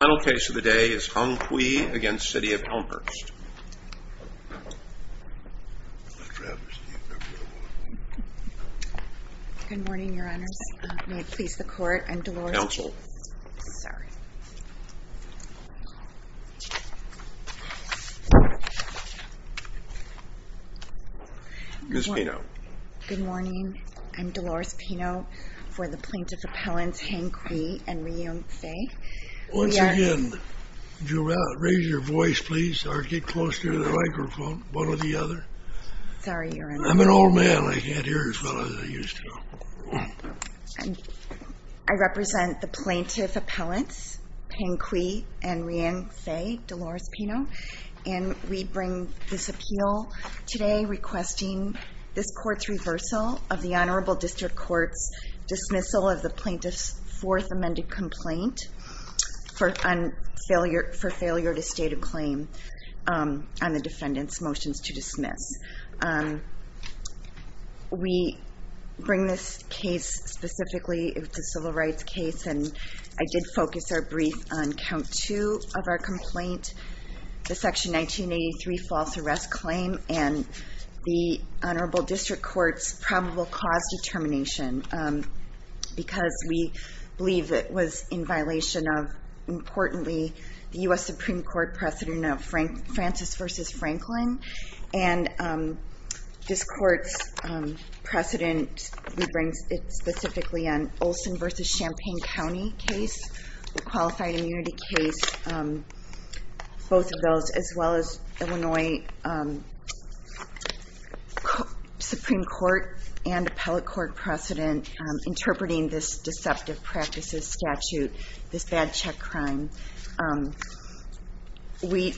The final case of the day is Hang Cui v. City of Elmhurst Good morning, Your Honours. May it please the Court, I'm Dolores Pino Counsel Sir Ms. Pino Good morning. I'm Dolores Pino for the Plaintiff Appellants Hang Cui and Rui Yongfei Once again, raise your voice please or get closer to the microphone, one or the other I'm an old man, I can't hear as well as I used to I represent the Plaintiff Appellants Hang Cui and Rui Yongfei, Dolores Pino And we bring this appeal today requesting this Court's reversal of the Honorable District Court's Fourth Amended Complaint for Failure to State a Claim on the Defendant's Motions to Dismiss We bring this case specifically, it's a civil rights case and I did focus our brief on Count 2 of our complaint The Section 1983 False Arrest Claim and the Honorable District Court's Probable Cause Determination Because we believe it was in violation of, importantly, the U.S. Supreme Court precedent of Francis v. Franklin And this Court's precedent, we bring it specifically on Olson v. Champaign County case, Qualified Immunity case Both of those, as well as Illinois Supreme Court and Appellate Court precedent Interpreting this deceptive practices statute, this bad check crime We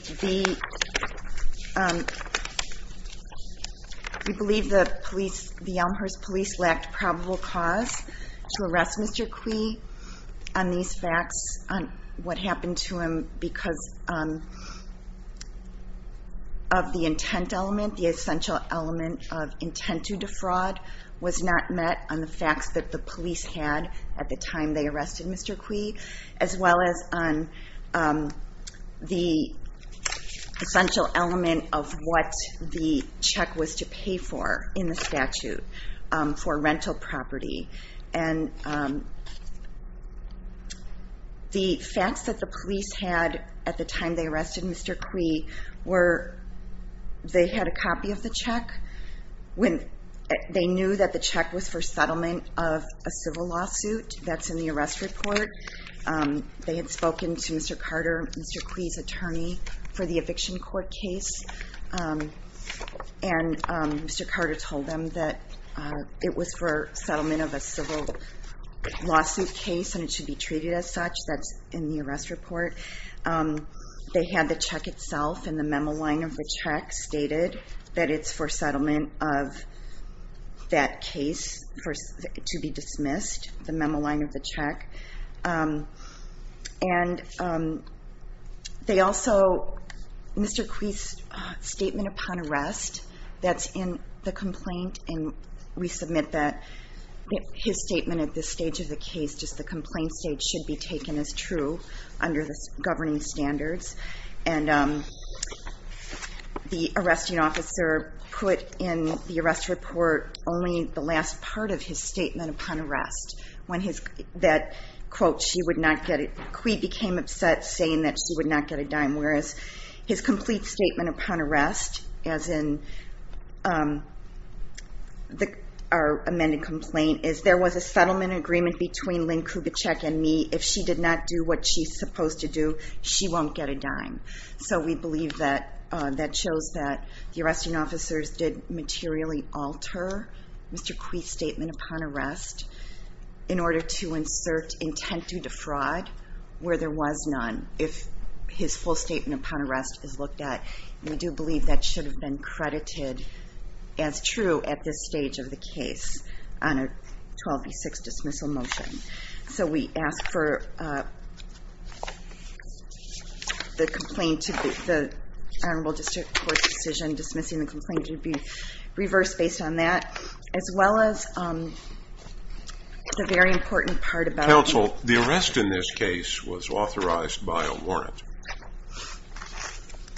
believe the Elmhurst Police lacked probable cause to arrest Mr. Cui on these facts What happened to him because of the intent element, the essential element of intent to defraud Was not met on the facts that the police had at the time they arrested Mr. Cui As well as on the essential element of what the check was to pay for in the statute for rental property And the facts that the police had at the time they arrested Mr. Cui were They had a copy of the check, they knew that the check was for settlement of a civil lawsuit That's in the arrest report, they had spoken to Mr. Carter, Mr. Cui's attorney for the eviction court case And Mr. Carter told them that it was for settlement of a civil lawsuit case and it should be treated as such That's in the arrest report, they had the check itself and the memo line of the check stated That it's for settlement of that case to be dismissed, the memo line of the check And they also, Mr. Cui's statement upon arrest, that's in the complaint And we submit that his statement at this stage of the case, just the complaint stage Should be taken as true under the governing standards And the arresting officer put in the arrest report only the last part of his statement upon arrest When his, that quote, she would not get, Cui became upset saying that she would not get a dime Whereas his complete statement upon arrest, as in our amended complaint Is there was a settlement agreement between Lynn Kubitschek and me, if she did not do what she's supposed to do She won't get a dime, so we believe that that shows that the arresting officers did materially alter Mr. Cui's statement upon arrest in order to insert intent to defraud where there was none If his full statement upon arrest is looked at, we do believe that should have been credited As true at this stage of the case on a 12 v. 6 dismissal motion So we ask for the complaint, the Honorable District Court's decision dismissing the complaint Should be reversed based on that, as well as the very important part about Counsel, the arrest in this case was authorized by a warrant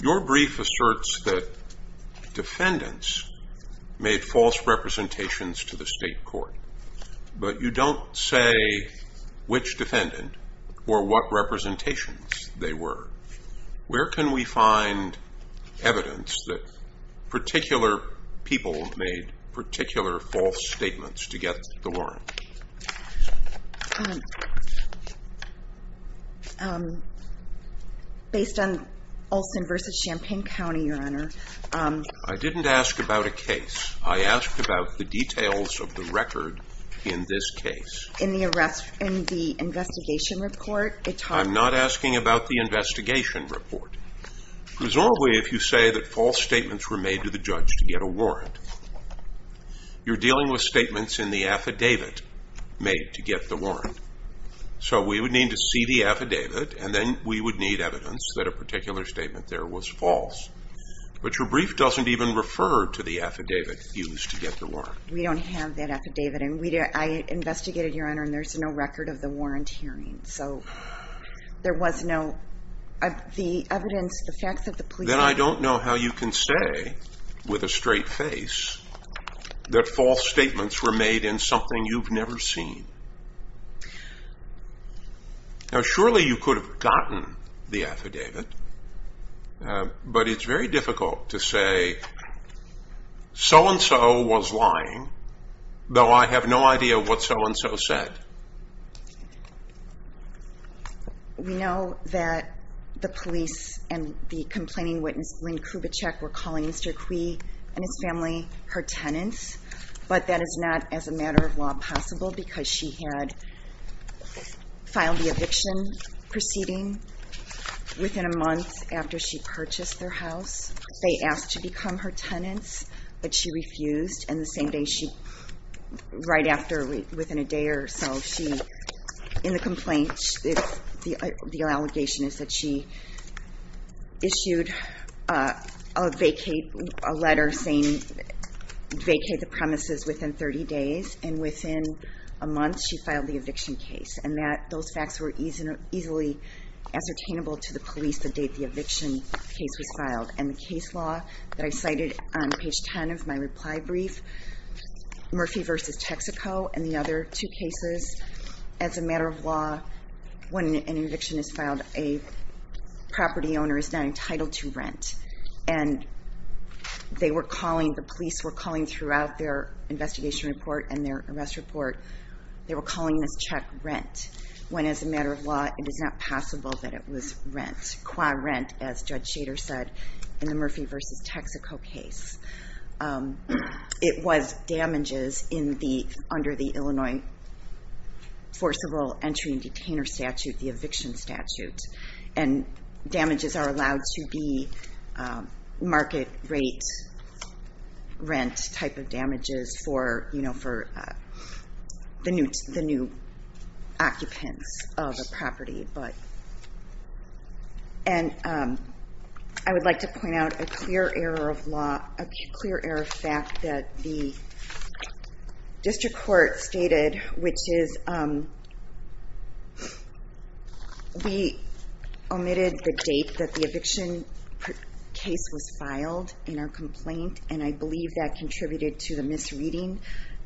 Your brief asserts that defendants made false representations to the state court But you don't say which defendant or what representations they were Where can we find evidence that particular people made particular false statements to get the warrant? Based on Olson v. Champaign County, Your Honor I didn't ask about a case, I asked about the details of the record in this case In the investigation report I'm not asking about the investigation report Presumably if you say that false statements were made to the judge to get a warrant You're dealing with statements in the affidavit made to get the warrant So we would need to see the affidavit and then we would need evidence that a particular statement there was false But your brief doesn't even refer to the affidavit used to get the warrant We don't have that affidavit and I investigated, Your Honor, and there's no record of the warrant hearing So there was no evidence, the facts of the police Then I don't know how you can say with a straight face That false statements were made in something you've never seen Now surely you could have gotten the affidavit But it's very difficult to say So-and-so was lying, though I have no idea what so-and-so said We know that the police and the complaining witness, Lynn Kubitschek, were calling Mr. Cui and his family her tenants But that is not as a matter of law possible because she had Filed the eviction proceeding within a month after she purchased their house They asked to become her tenants but she refused and the same day she Right after, within a day or so, she In the complaint, the allegation is that she Issued a letter saying Vacate the premises within 30 days and within A month she filed the eviction case and those facts were easily Ascertainable to the police the date the eviction case was filed and the case law That I cited on page 10 of my reply brief Murphy v. Texaco and the other two cases As a matter of law, when an eviction is filed a Property owner is not entitled to rent and They were calling, the police were calling throughout their investigation report And their arrest report, they were calling this check rent When as a matter of law, it is not possible that it was rent, qua rent As Judge Shader said in the Murphy v. Texaco case It was damages in the, under the Illinois forcible entry and detainer statute The eviction statute and damages are allowed to be Market rate rent Type of damages for, you know, for the new Occupants of a property And I would like to point out a clear error of Law, a clear error of fact that the District Court stated which is We omitted the date that the Eviction case was filed in our complaint And I believe that contributed to the misreading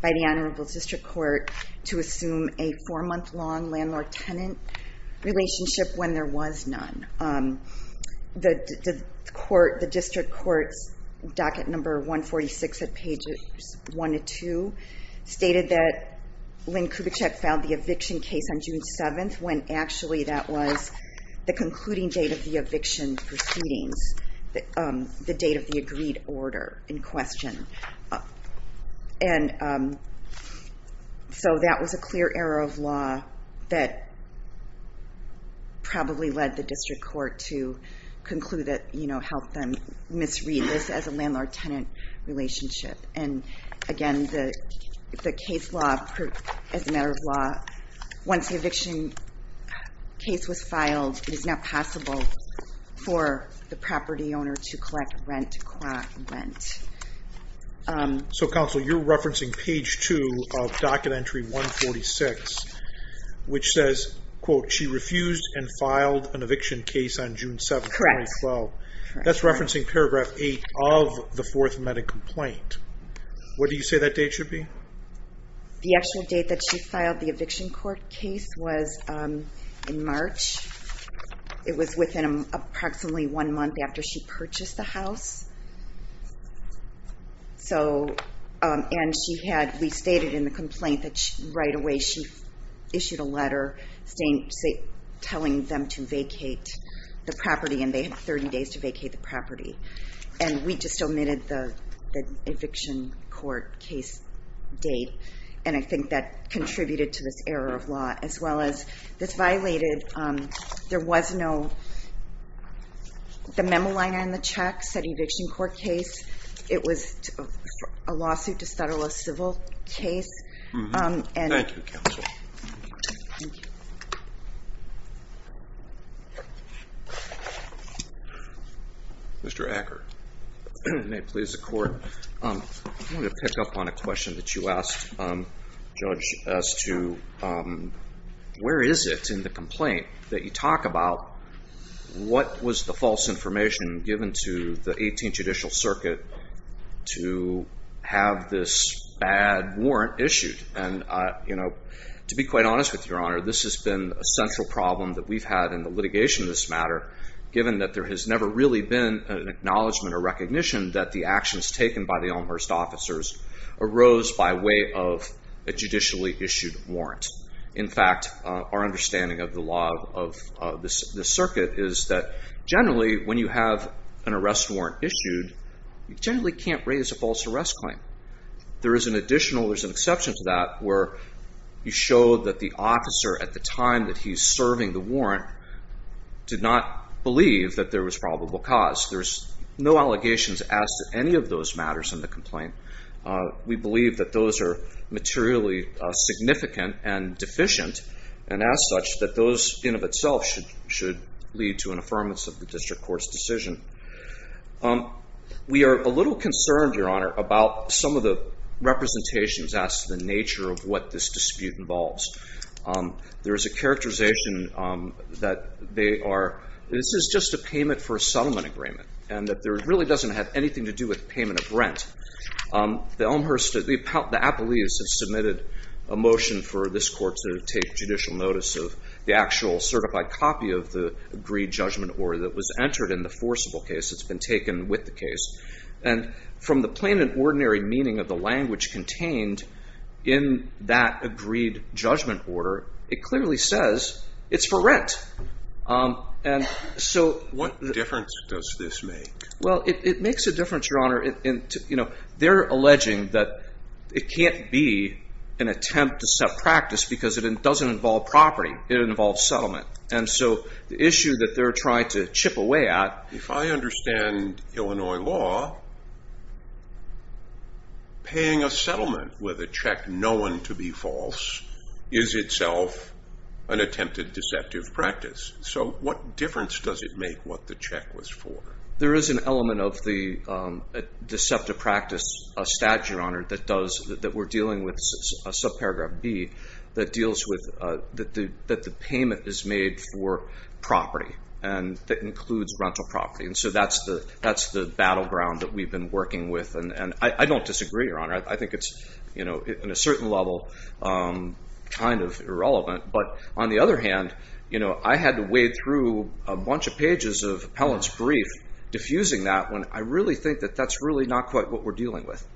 by the Honorable District Court To assume a four month long landlord tenant relationship When there was none The District Court's docket number 146 at page One to two stated that Lynn Kubitschek filed the Eviction case on June 7th when actually that was the concluding Date of the eviction proceedings, the date of the Agreed order in question And so that was a clear Error of law that probably Led the District Court to conclude that, you know, help them Misread this as a landlord tenant relationship and again The case law, as a matter of law Once the eviction case was filed it is not possible For the property owner to collect rent So Counsel, you're referencing page two Of docket entry 146 which says Quote, she refused and filed an eviction case on June 7th Correct. That's referencing paragraph eight of the fourth Medical complaint. What do you say that date should be? The actual date that she filed the eviction court case was In March, it was within approximately one month After she purchased the house And she had, we stated in the complaint that right away She issued a letter telling them To vacate the property and they had 30 days to vacate the property And we just omitted the eviction court Case date and I think that contributed to this error Of law as well as this violated, there was no The memo line on the check said eviction court case It was a lawsuit to settle a civil Case. Thank you Counsel. Mr. Acker. May it please the court I want to pick up on a question that you asked Judge as to where is it in the complaint That you talk about what was the false information Given to the 18th judicial circuit to Have this bad warrant issued and To be quite honest with your honor this has been a central problem that we've had in the litigation Of this matter given that there has never really been an acknowledgement Or recognition that the actions taken by the Elmhurst officers arose By way of a judicially issued warrant. In fact Our understanding of the law of this circuit is that Generally when you have an arrest warrant issued you generally Can't raise a false arrest claim. There is an additional, there's an exception To that where you show that the officer at the time that he Is serving the warrant did not believe that there was probable Cause. There's no allegations as to any of those matters in the Complaint. We believe that those are materially Significant and deficient and as such that those In of itself should lead to an affirmance of the district court's decision We are a little concerned your honor about Some of the representations as to the nature of what this dispute Involves. There is a characterization that They are, this is just a payment for a settlement agreement and that There really doesn't have anything to do with payment of rent. The Elmhurst The appellees have submitted a motion for this court to Take judicial notice of the actual certified copy of the agreed Judgment order that was entered in the forcible case that's been taken with the case And from the plain and ordinary meaning of the language contained In that agreed judgment order it clearly says It's for rent. And so They're alleging that it can't be An attempt to set practice because it doesn't involve property. It involves Settlement. And so the issue that they're trying to chip away at If I understand Illinois law Paying a settlement with a check known to be false Is itself an attempted deceptive practice So what difference does it make what the check was for? There is an element of the deceptive practice That we're dealing with, subparagraph B That deals with that the payment is made for Property and that includes rental property and so that's the Battleground that we've been working with and I don't disagree your honor I think it's in a certain level kind of irrelevant Diffusing that one I really think that that's Really not quite what we're dealing with.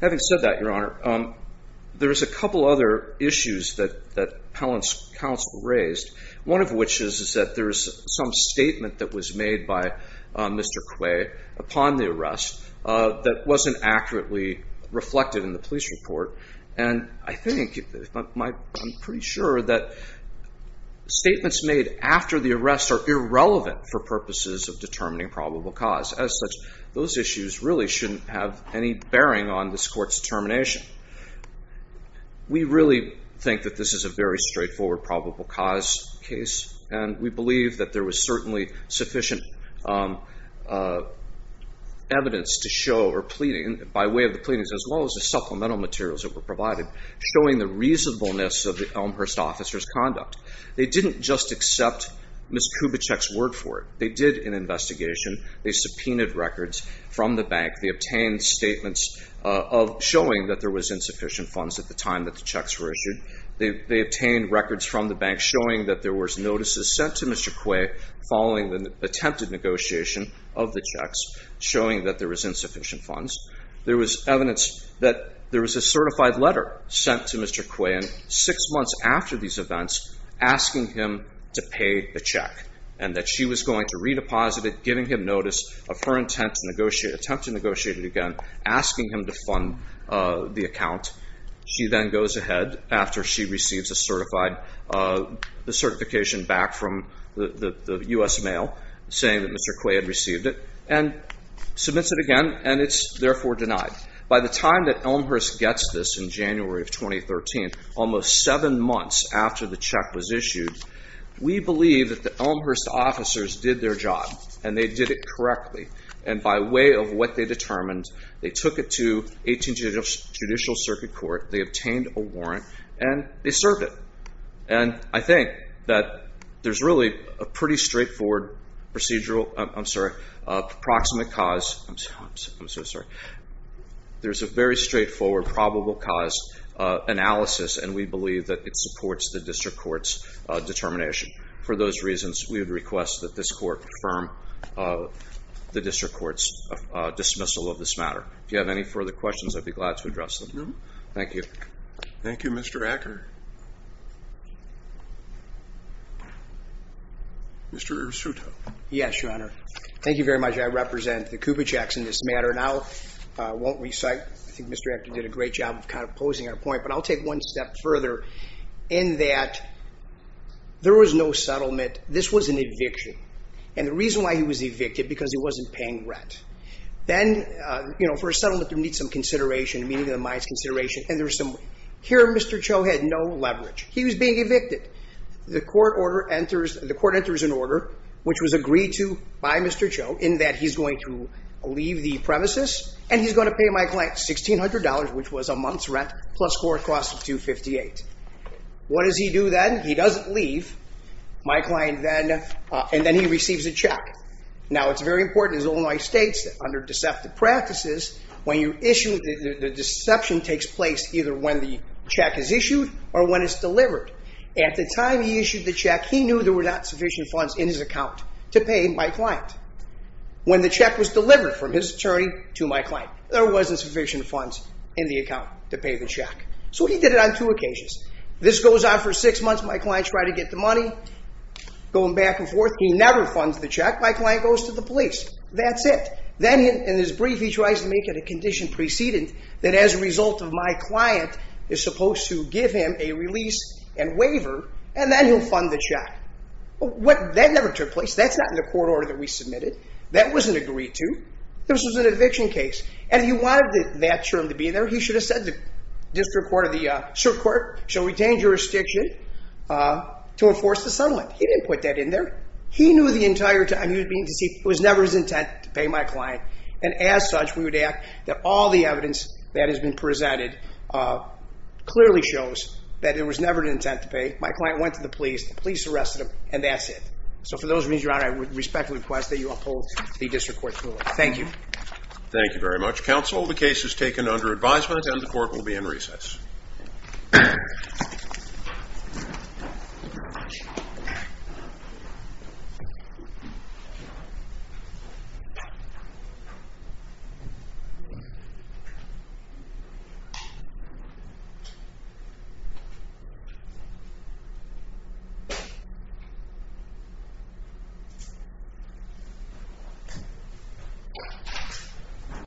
Having said that your honor There's a couple other issues that appellant's counsel Raised. One of which is that there's some statement that was made By Mr. Quay upon the arrest that wasn't Accurately reflected in the police report and I think I'm pretty sure that statements Made after the arrest are irrelevant for purposes of determining probable Cause. As such those issues really shouldn't have any bearing on This court's determination. We really think that This is a very straightforward probable cause case and we believe That there was certainly sufficient Evidence to show or pleading by way of the pleadings as well as the supplemental Materials that were provided showing the reasonableness of the Elmhurst officer's Accept Ms. Kubitschek's word for it. They did an investigation They subpoenaed records from the bank. They obtained statements Showing that there was insufficient funds at the time that the checks were issued They obtained records from the bank showing that there was notices sent to Mr. Quay Following the attempted negotiation of the checks Showing that there was insufficient funds. There was evidence that There was a certified letter sent to Mr. Quay and six months after these Attempts to negotiate it again asking him to pay the check and that she was going to Redeposit it giving him notice of her intent to negotiate Attempt to negotiate it again asking him to fund the account She then goes ahead after she receives a certified Certification back from the U.S. Mail saying that Mr. Quay Had received it and submits it again and it's therefore denied By the time that Elmhurst gets this in January of 2013 Almost seven months after the check was issued We believe that the Elmhurst officers did their job and they did it correctly And by way of what they determined they took it to 18th Judicial Circuit Court. They obtained a warrant and they served it And I think that there's really a pretty Straightforward procedural, I'm sorry, approximate cause I'm so sorry. There's a very straightforward probable Cause analysis and we believe that it supports the District Court's Determination. For those reasons we would request that this Court Confirm the District Court's dismissal of this matter If you have any further questions I'd be glad to address them. Thank you Thank you Mr. Acker Mr. Irsuto. Yes, Your Honor Thank you very much. I represent the Kuba checks in this matter and I won't Recite. I think Mr. Acker did a great job of kind of posing our point but I'll take one step Further in that there was no settlement This was an eviction and the reason why he was evicted because he wasn't paying Rent. Then, you know, for a settlement there needs some consideration Meaning of the mines consideration and there's some, here Mr. Cho had no leverage He was being evicted. The court order enters, the court enters an order Which was agreed to by Mr. Cho in that he's going to leave The premises and he's going to pay my client $1,600 which was a month's rent Plus court costs of $258. What does he do then? He doesn't leave my client then and then he receives a check Now it's very important as Illinois States under deceptive practices When you issue, the deception takes place either when the Check is issued or when it's delivered. At the time he issued the check He knew there were not sufficient funds in his account to pay my client When the check was delivered from his attorney to my client There wasn't sufficient funds in the account to pay the check. So he did it on two occasions This goes on for six months. My client tried to get the money Going back and forth. He never funds the check. My client goes to the police That's it. Then in his brief he tries to make it a condition precedent That as a result of my client is supposed to give him a release And waiver and then he'll fund the check That never took place. That's not in the court order that we submitted That wasn't agreed to. This was an eviction case and he wanted that Term to be there. He should have said the district court or the circuit court Shall retain jurisdiction to enforce the settlement. He didn't put that in there He knew the entire time he was being deceived. It was never his intent to pay my client And as such we would act that all the evidence that has been presented Clearly shows that it was never an intent to pay My client went to the police. The police arrested him and that's it. So for those of you who are out I would respectfully request that you uphold the district court's ruling. Thank you Thank you very much. Counsel the case is taken under advisement and the court will be in recess Thank you.